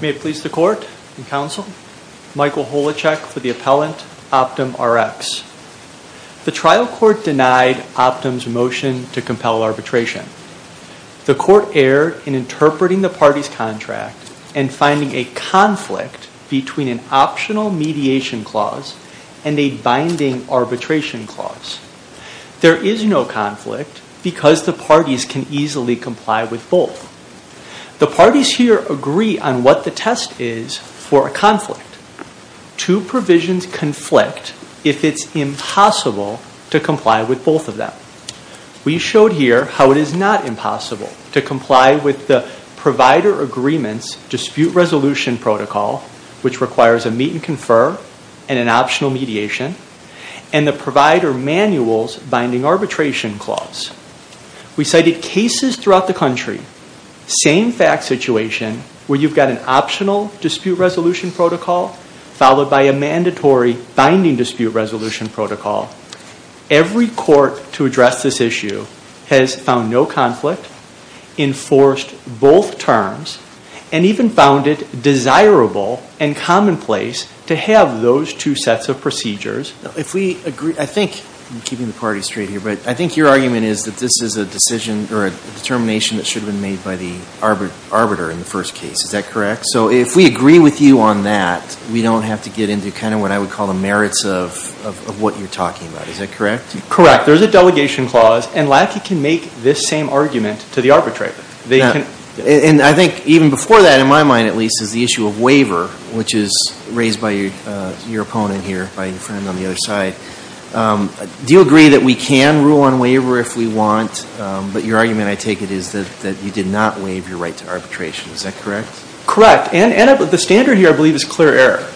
May it please the Court and Counsel, Michael Holacek for the Appellant, OptumRx. The trial court denied Optum's motion to compel arbitration. The court erred in interpreting the party's contract and finding a conflict between an optional mediation clause and a binding arbitration clause. There is no conflict because the parties can easily comply with both. The parties here agree on what the test is for a conflict. Two provisions conflict if it's impossible to comply with both of them. We showed here how it is not impossible to comply with the provider agreement's dispute resolution protocol, which requires a meet and confer and an optional mediation, and the provider manual's binding arbitration clause. We cited cases throughout the country, same fact situation, where you've got an optional dispute resolution protocol followed by a mandatory binding dispute resolution protocol. Every court to address this issue has found no conflict, enforced both terms, and even found it desirable and commonplace to have those two sets of procedures. If we agree, I think, I'm keeping the party straight here, but I think your argument is that this is a decision or a determination that should have been made by the arbiter in the first case. Is that correct? So if we agree with you on that, we don't have to get into kind of what I would call the merits of what you're talking about. Is that correct? Correct. There's a delegation clause, and LACI can make this same argument to the arbitrator. And I think even before that, in my mind at least, is the issue of waiver, which is raised by your opponent here, by your friend on the other side. Do you agree that we can rule on waiver if we want, but your argument, I take it, is that you did not waive your right to arbitration. Is that correct? Correct. And the standard here, I believe, is clear error.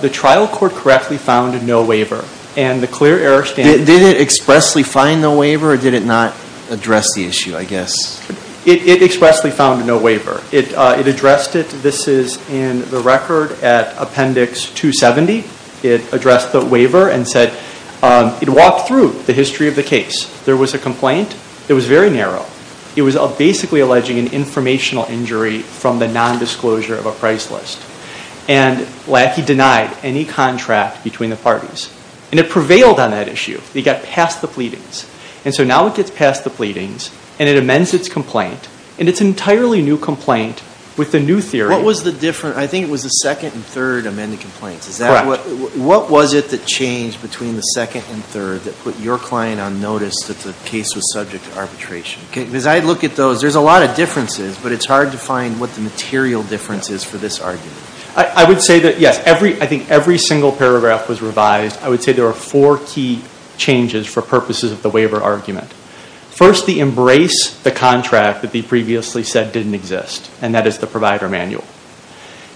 The trial court correctly found no waiver. And the clear error standard. Did it expressly find no waiver, or did it not address the issue, I guess? It expressly found no waiver. It addressed it. This is in the record at Appendix 270. It addressed the waiver and said it walked through the history of the case. There was a complaint. It was very narrow. It was basically alleging an informational injury from the nondisclosure of a price list. And LACI denied any contract between the parties. And it prevailed on that issue. It got past the pleadings. And so now it gets past the pleadings, and it amends its complaint. And it's an entirely new complaint with a new theory. What was the difference? I think it was the second and third amended complaints. Correct. What was it that changed between the second and third that put your client on notice that the case was subject to arbitration? Because I look at those, there's a lot of differences, but it's hard to find what the material difference is for this argument. I would say that, yes, I think every single paragraph was revised. I would say there were four key changes for purposes of the waiver argument. First, they embrace the contract that they previously said didn't exist. And that is the provider manual.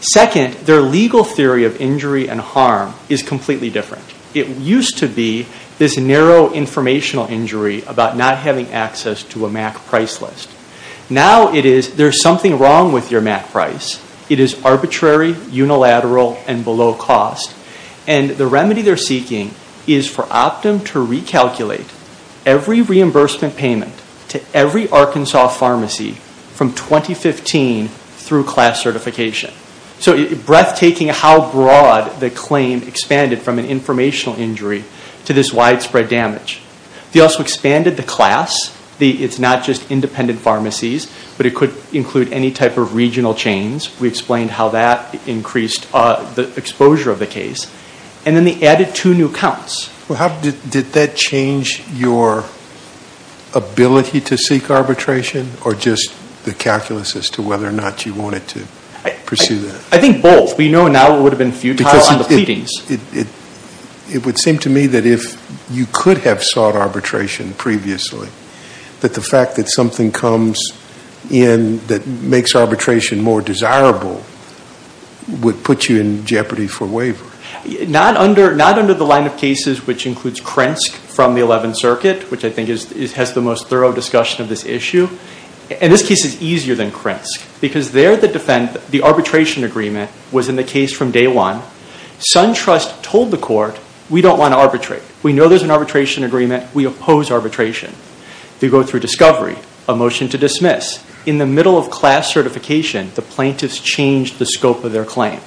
Second, their legal theory of injury and harm is completely different. It used to be this narrow informational injury about not having access to a MAC price list. Now it is there's something wrong with your MAC price. It is arbitrary, unilateral, and below cost. And the remedy they're seeking is for Optum to recalculate every reimbursement payment to every Arkansas pharmacy from 2015 through class certification. So it's breathtaking how broad the claim expanded from an informational injury to this widespread damage. They also expanded the class. It's not just independent pharmacies, but it could include any type of regional chains. We explained how that increased the exposure of the case. And then they added two new counts. Did that change your ability to seek arbitration or just the calculus as to whether or not you wanted to pursue that? I think both. We know now it would have been futile on the pleadings. It would seem to me that if you could have sought arbitration previously, that the fact that something comes in that makes arbitration more desirable would put you in jeopardy for waiver. Not under the line of cases which includes Krensk from the 11th Circuit, which I think has the most thorough discussion of this issue. And this case is easier than Krensk because there the arbitration agreement was in the case from day one. SunTrust told the court, we don't want to arbitrate. We know there's an arbitration agreement. We oppose arbitration. They go through discovery, a motion to dismiss. In the middle of class certification, the plaintiffs changed the scope of their claim.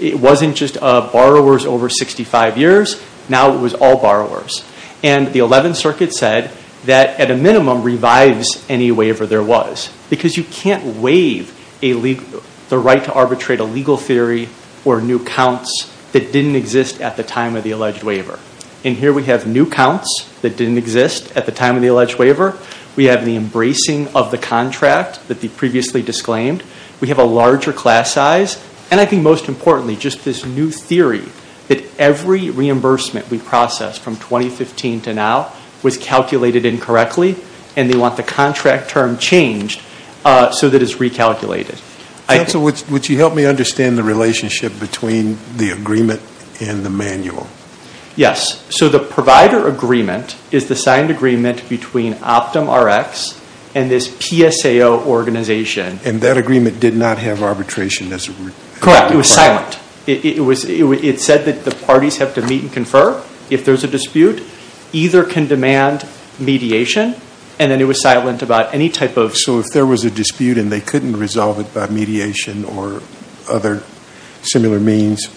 It wasn't just borrowers over 65 years, now it was all borrowers. And the 11th Circuit said that at a minimum revives any waiver there was because you can't waive the right to arbitrate a legal theory or new counts that didn't exist at the time of the alleged waiver. And here we have new counts that didn't exist at the time of the alleged waiver. We have the embracing of the contract that they previously disclaimed. We have a larger class size. And I think most importantly, just this new theory that every reimbursement we processed from 2015 to now was calculated incorrectly. And they want the contract term changed so that it's recalculated. I think. Would you help me understand the relationship between the agreement and the manual? Yes. So the provider agreement is the signed agreement between OptumRx and this PSAO organization. And that agreement did not have arbitration as a. Correct. It was silent. It said that the parties have to meet and confer if there's a dispute. Either can demand mediation and then it was silent about any type of. So if there was a dispute and they couldn't resolve it by mediation or other similar means,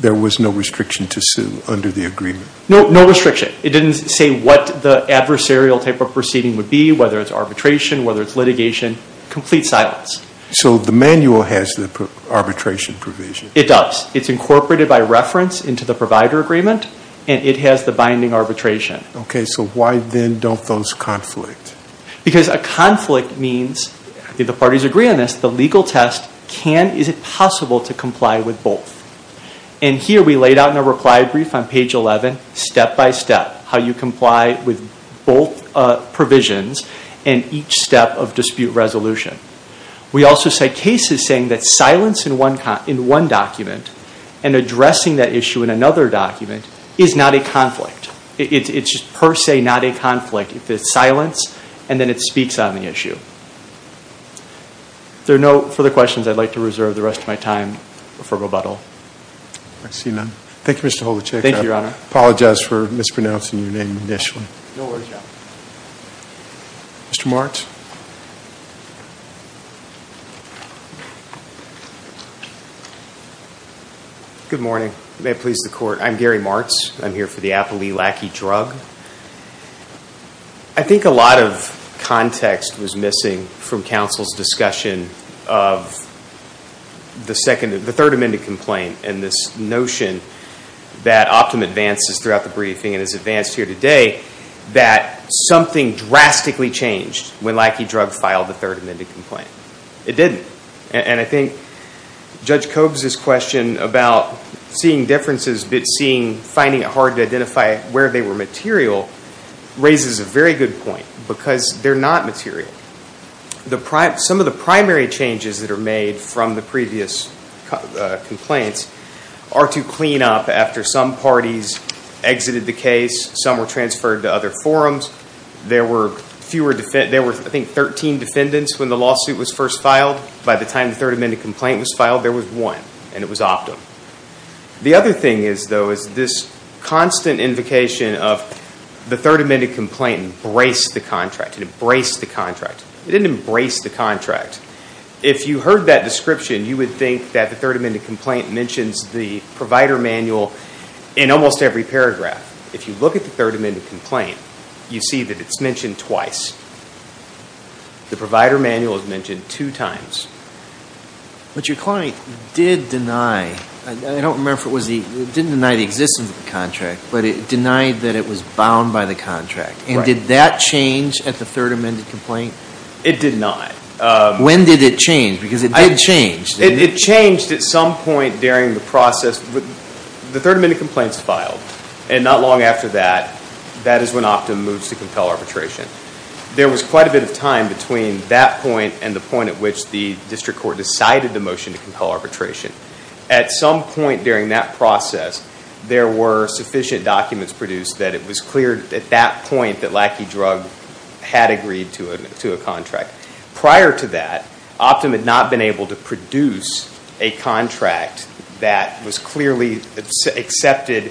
there was no restriction to sue under the agreement? No, no restriction. It didn't say what the adversarial type of proceeding would be, whether it's arbitration, whether it's litigation, complete silence. So the manual has the arbitration provision? It does. It's incorporated by reference into the provider agreement and it has the binding arbitration. Okay. So why then don't those conflict? Because a conflict means, if the parties agree on this, the legal test can, is it possible to comply with both? And here we laid out in a reply brief on page 11, step by step, how you comply with both provisions and each step of dispute resolution. We also cite cases saying that silence in one document and addressing that issue in another document is not a conflict. It's per se not a conflict. It's silence and then it speaks on the issue. If there are no further questions, I'd like to reserve the rest of my time for rebuttal. I see none. Thank you, Mr. Holachek. Thank you, Your Honor. Apologize for mispronouncing your name initially. No worries, Your Honor. Mr. Martz? Good morning. May it please the Court. I'm Gary Martz. I'm here for the Applee Lackey drug. I think a lot of context was missing from counsel's discussion of the third amended complaint and this notion that Optum advances throughout the briefing and has advanced here today that something drastically changed when Lackey drug filed the third amended complaint. It didn't. And I think Judge Cobes' question about seeing differences but finding it hard to identify where they were material raises a very good point because they're not material. Some of the primary changes that are made from the previous complaints are to clean up after some parties exited the case, some were transferred to other forums. There were, I think, 13 defendants when the lawsuit was first filed. By the time the third amended complaint was filed, there was one and it was Optum. The other thing is, though, is this constant invocation of the third amended complaint embraced the contract. It embraced the contract. It didn't embrace the contract. If you heard that description, you would think that the third amended complaint mentions the provider manual in almost every paragraph. If you look at the third amended complaint, you see that it's mentioned twice. The provider manual is mentioned two times. But your client did deny, I don't remember if it was the, didn't deny the existence of the contract but it denied that it was bound by the contract. And did that change at the third amended complaint? It did not. When did it change? Because it did change. It changed at some point during the process. The third amended complaint is filed and not long after that, that is when Optum moves to compel arbitration. There was quite a bit of time between that point and the point at which the district court decided the motion to compel arbitration. At some point during that process, there were sufficient documents produced that it was clear at that point that Lackey Drug had agreed to a contract. Prior to that, Optum had not been able to produce a contract that was clearly accepted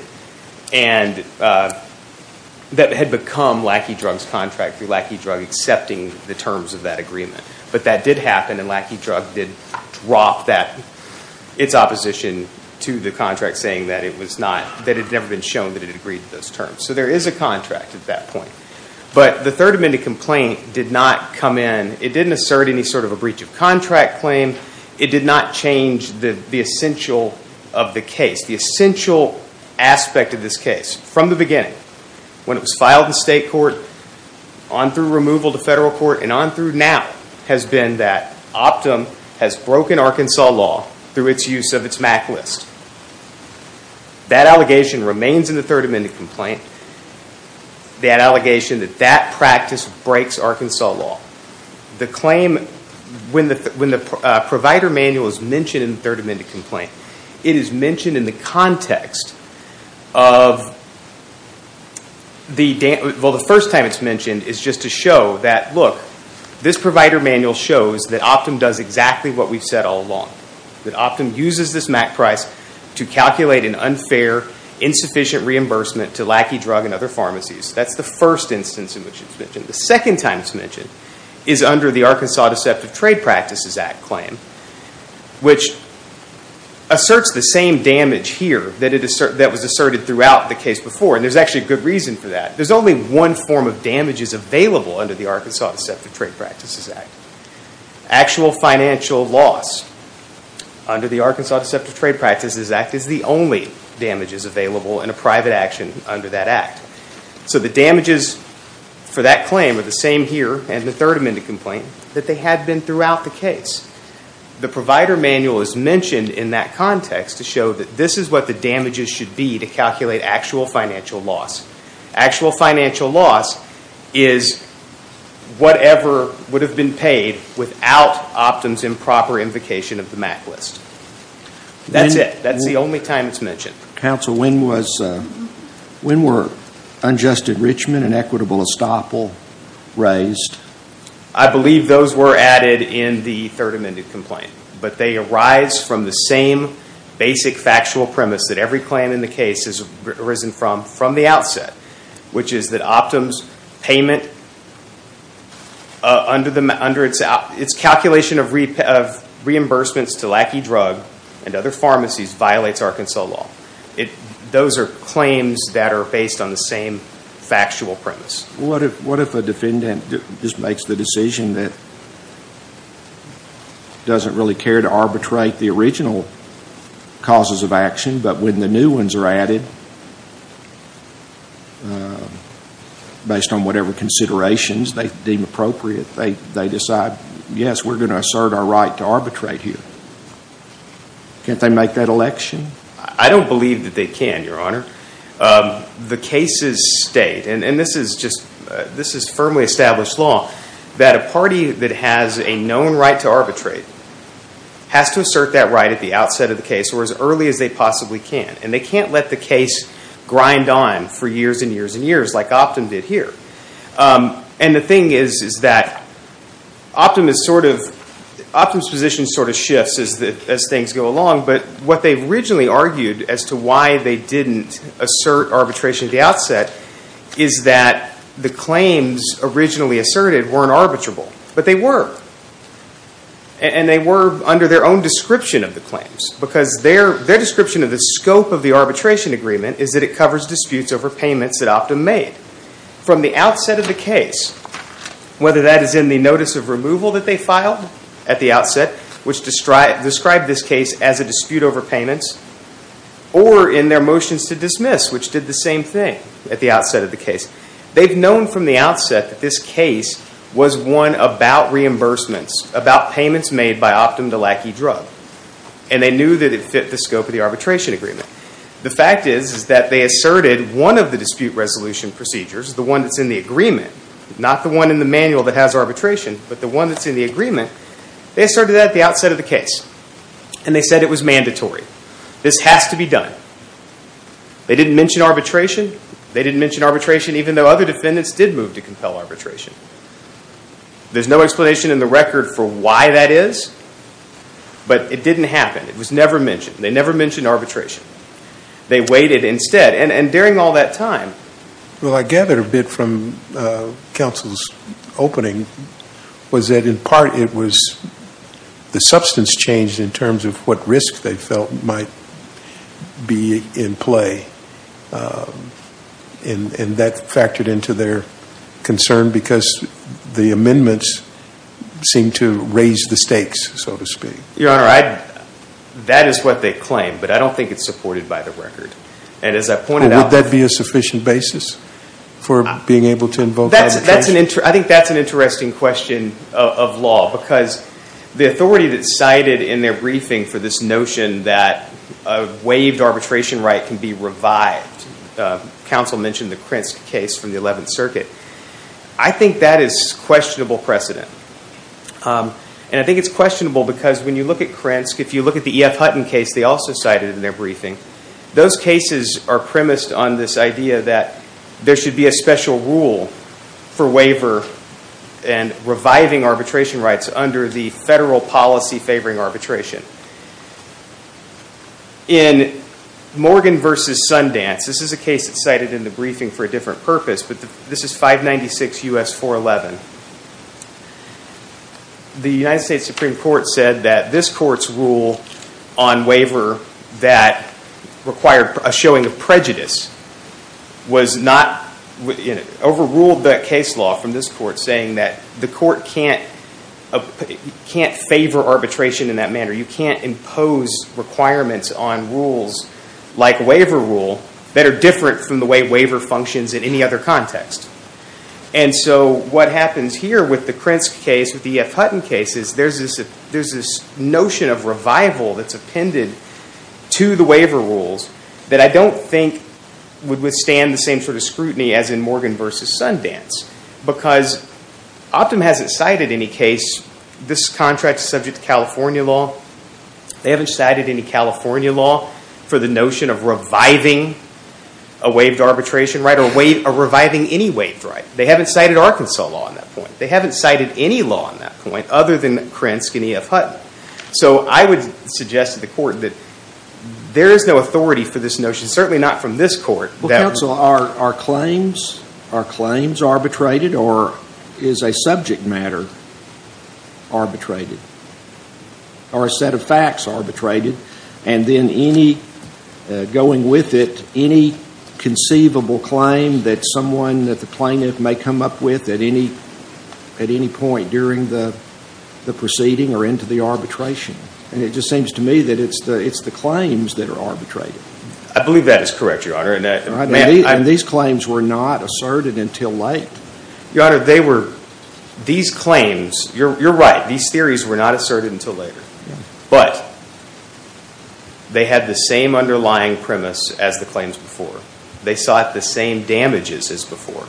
and that had become Lackey Drug's contract through Lackey Drug accepting the terms of that agreement. But that did happen and Lackey Drug did drop that, its opposition to the contract saying that it was not, that it had never been shown that it had agreed to those terms. So there is a contract at that point. But the third amended complaint did not come in. It didn't assert any sort of a breach of contract claim. It did not change the essential of the case. The essential aspect of this case from the beginning, when it was filed in state court, on through removal to federal court, and on through now has been that Optum has broken Arkansas law through its use of its MAC list. That allegation remains in the third amended complaint. That allegation that that practice breaks Arkansas law. The claim, when the provider manual is mentioned in the third amended complaint, it is mentioned in the context of the, well the first time it's mentioned is just to show that look, this provider manual shows that Optum does exactly what we've said all along. That Optum uses this MAC price to calculate an unfair, insufficient reimbursement to Lackey Drug and other pharmacies. That's the first instance in which it's mentioned. The second time it's mentioned is under the Arkansas Deceptive Trade Practices Act claim, which asserts the same damage here that was asserted throughout the case before. And there's actually a good reason for that. There's only one form of damages available under the Arkansas Deceptive Trade Practices Act. Actual financial loss under the Arkansas Deceptive Trade Practices Act is the only damages available in a private action under that act. So the damages for that claim are the same here in the third amended complaint that they had been throughout the case. The provider manual is mentioned in that context to show that this is what the damages should be to calculate actual financial loss. Actual financial loss is whatever would have been paid without Optum's improper invocation of the MAC list. That's it. That's the only time it's mentioned. Counsel, when were unjust enrichment and equitable estoppel raised? I believe those were added in the third amended complaint. But they arise from the same basic factual premise that every claim in the case has arisen from, from the outset. Which is that Optum's payment under its calculation of reimbursements to Lackey Drug and other pharmacies violates Arkansas law. Those are claims that are based on the same factual premise. What if a defendant just makes the decision that doesn't really care to arbitrate the original causes of action, but when the new ones are added based on whatever considerations they deem appropriate, they decide, yes, we're going to assert our right to arbitrate here. Can't they make that election? I don't believe that they can, your honor. The cases state, and this is just, this is firmly established law, that a party that has a known right to arbitrate has to assert that right at the outset of the case or as early as they possibly can. And they can't let the case grind on for years and years and years like Optum did here. And the thing is, is that Optum is sort of, Optum's position sort of shifts as things go along. But what they originally argued as to why they didn't assert arbitration at the outset is that the claims originally asserted weren't arbitrable. But they were. And they were under their own description of the claims. Because their description of the scope of the arbitration agreement is that it covers disputes over payments that Optum made. From the outset of the case, whether that is in the notice of removal that they filed at the outset, which described this case as a dispute over payments. Or in their motions to dismiss, which did the same thing at the outset of the case. They've known from the outset that this case was one about reimbursements, about payments made by Optum to Lackey Drug. And they knew that it fit the scope of the arbitration agreement. The fact is, is that they asserted one of the dispute resolution procedures, the one that's in the agreement, not the one in the manual that has arbitration. But the one that's in the agreement, they asserted that at the outset of the case. And they said it was mandatory. This has to be done. They didn't mention arbitration. They didn't mention arbitration even though other defendants did move to compel arbitration. There's no explanation in the record for why that is. But it didn't happen. It was never mentioned. They never mentioned arbitration. They waited instead. And during all that time. Well, I gathered a bit from counsel's opening was that in part it was the substance changed in terms of what risk they felt might be in play. And that factored into their concern because the amendments seemed to raise the stakes, so to speak. Your Honor, that is what they claim. But I don't think it's supported by the record. And as I pointed out. Would that be a sufficient basis for being able to invoke arbitration? I think that's an interesting question of law. Because the authority that's cited in their briefing for this notion that a waived arbitration right can be revived. Counsel mentioned the Krentz case from the 11th Circuit. I think that is questionable precedent. And I think it's questionable because when you look at Krentz, if you look at the E.F. Hutton case they also cited in their briefing. Those cases are premised on this idea that there should be a special rule for waiver and reviving arbitration rights under the federal policy favoring arbitration. In Morgan v. Sundance, this is a case that's cited in the briefing for a different purpose. But this is 596 U.S. 411. The United States Supreme Court said that this court's rule on waiver that required a showing of prejudice was not, overruled that case law from this court saying that the court can't favor arbitration in that manner. You can't impose requirements on rules like waiver rule that are different from the way waiver functions in any other context. And so what happens here with the Krentz case, with the E.F. Hutton case, is there's this notion of revival that's appended to the waiver rules that I don't think would withstand the same sort of scrutiny as in Morgan v. Sundance. Because Optum hasn't cited any case, this contract is subject to California law. They haven't cited any California law for the notion of reviving a waived arbitration right or reviving any waived right. They haven't cited Arkansas law on that point. They haven't cited any law on that point other than Krentz and E.F. Hutton. So I would suggest to the court that there is no authority for this notion, certainly not from this court. Well, counsel, are claims arbitrated or is a subject matter arbitrated? Are a set of facts arbitrated? And then any, going with it, any conceivable claim that someone, that the plaintiff may come up with at any point during the proceeding or into the arbitration? And it just seems to me that it's the claims that are arbitrated. I believe that is correct, Your Honor. And these claims were not asserted until late. Your Honor, they were, these claims, you're right. These theories were not asserted until later. But they had the same underlying premise as the claims before. They sought the same damages as before.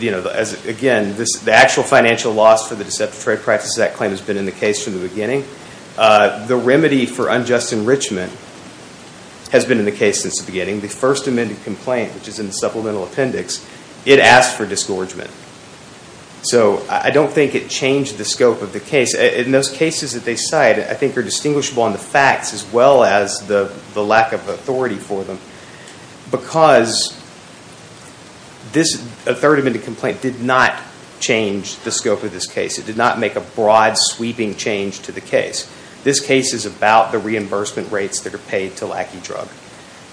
You know, again, the actual financial loss for the Deceptive Trade Practices Act claim has been in the case from the beginning. The remedy for unjust enrichment has been in the case since the beginning. The First Amendment complaint, which is in the supplemental appendix, it asked for disgorgement. So I don't think it changed the scope of the case. In those cases that they cite, I think they're distinguishable on the facts as well as the lack of authority for them, because this Third Amendment complaint did not change the scope of this case. It did not make a broad, sweeping change to the case. This case is about the reimbursement rates that are paid to Lackey Drug.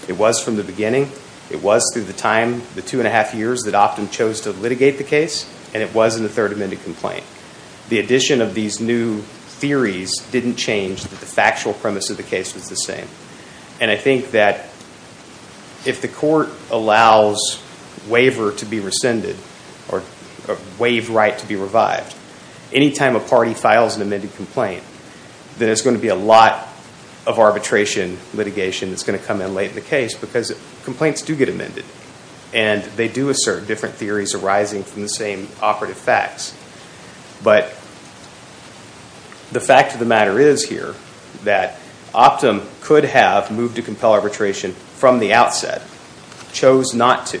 It was from the beginning. It was through the time, the two and a half years, that Optum chose to litigate the case. And it was in the Third Amendment complaint. The addition of these new theories didn't change the factual premise of the case was the same. And I think that if the court allows waiver to be rescinded or waived right to be revived, any time a party files an amended complaint, then it's going to be a lot of arbitration litigation that's going to come in late in the case, because complaints do get amended. And they do assert different theories arising from the same operative facts. But the fact of the matter is here that Optum could have moved to compel arbitration from the outset. Chose not to.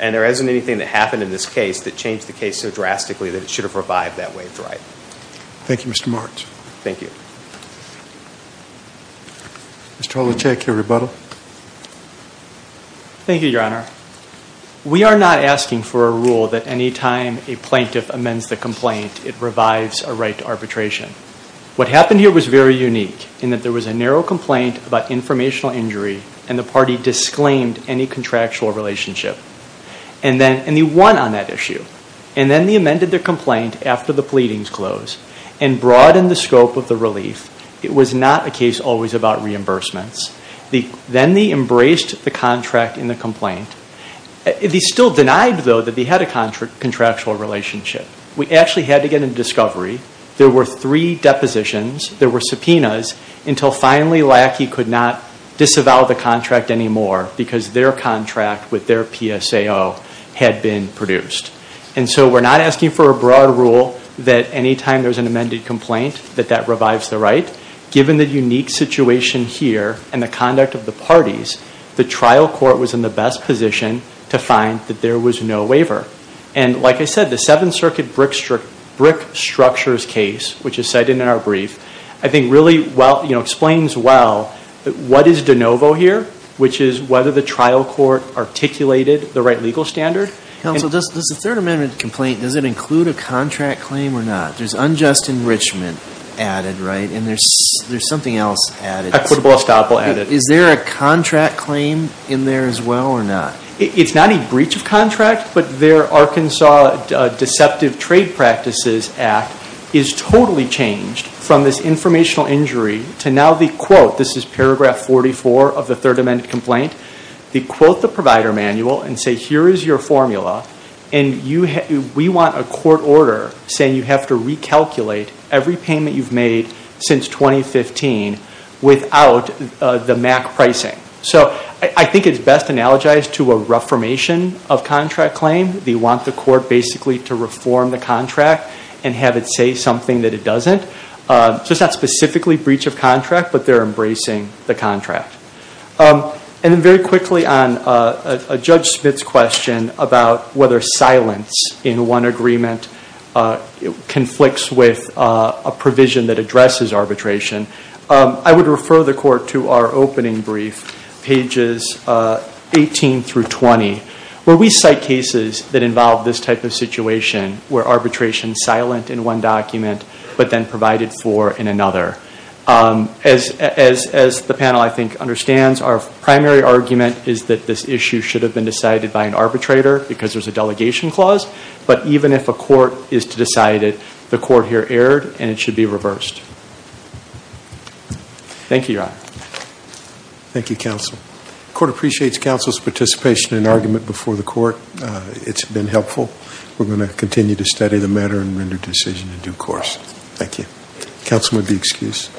And there isn't anything that happened in this case that changed the case so drastically that it should have revived that waived right. Thank you, Mr. Marks. Thank you. Mr. Holacheck, your rebuttal. Thank you, Your Honor. We are not asking for a rule that any time a plaintiff amends the complaint, it revives a right to arbitration. What happened here was very unique in that there was a narrow complaint about informational injury, and the party disclaimed any contractual relationship. And then, and they won on that issue. And then they amended their complaint after the pleadings closed and broadened the scope of the relief. It was not a case always about reimbursements. Then they embraced the contract in the complaint. They still denied, though, that they had a contractual relationship. We actually had to get a discovery. There were three depositions. There were subpoenas until finally Lackey could not disavow the contract anymore because their contract with their PSAO had been produced. And so we're not asking for a broad rule that any time there's an amended complaint that that revives the right. Given the unique situation here and the conduct of the parties, the trial court was in the best position to find that there was no waiver. And like I said, the Seventh Circuit brick structures case, which is cited in our brief, I think really explains well what is de novo here, which is whether the trial court articulated the right legal standard. Counsel, does the Third Amendment complaint, does it include a contract claim or not? There's unjust enrichment added, right? There's something else added. Equitable estoppel added. Is there a contract claim in there as well or not? It's not a breach of contract, but their Arkansas Deceptive Trade Practices Act is totally changed from this informational injury to now the quote, this is paragraph 44 of the Third Amendment complaint, they quote the provider manual and say, here is your formula. And we want a court order saying you have to recalculate every payment you've made since 2015 without the MAC pricing. So I think it's best analogized to a reformation of contract claim. They want the court basically to reform the contract and have it say something that it doesn't. So it's not specifically breach of contract, but they're embracing the contract. And then very quickly on Judge Smith's question about whether silence in one agreement conflicts with a provision that addresses arbitration. I would refer the court to our opening brief, pages 18 through 20. Where we cite cases that involve this type of situation, where arbitration's silent in one document, but then provided for in another. As the panel, I think, understands, our primary argument is that this issue should have been decided by an arbitrator because there's a delegation clause. But even if a court is to decide it, the court here erred, and it should be reversed. Thank you, Your Honor. Thank you, counsel. Court appreciates counsel's participation in argument before the court. It's been helpful. We're going to continue to study the matter and render decision in due course. Thank you. Counsel may be excused.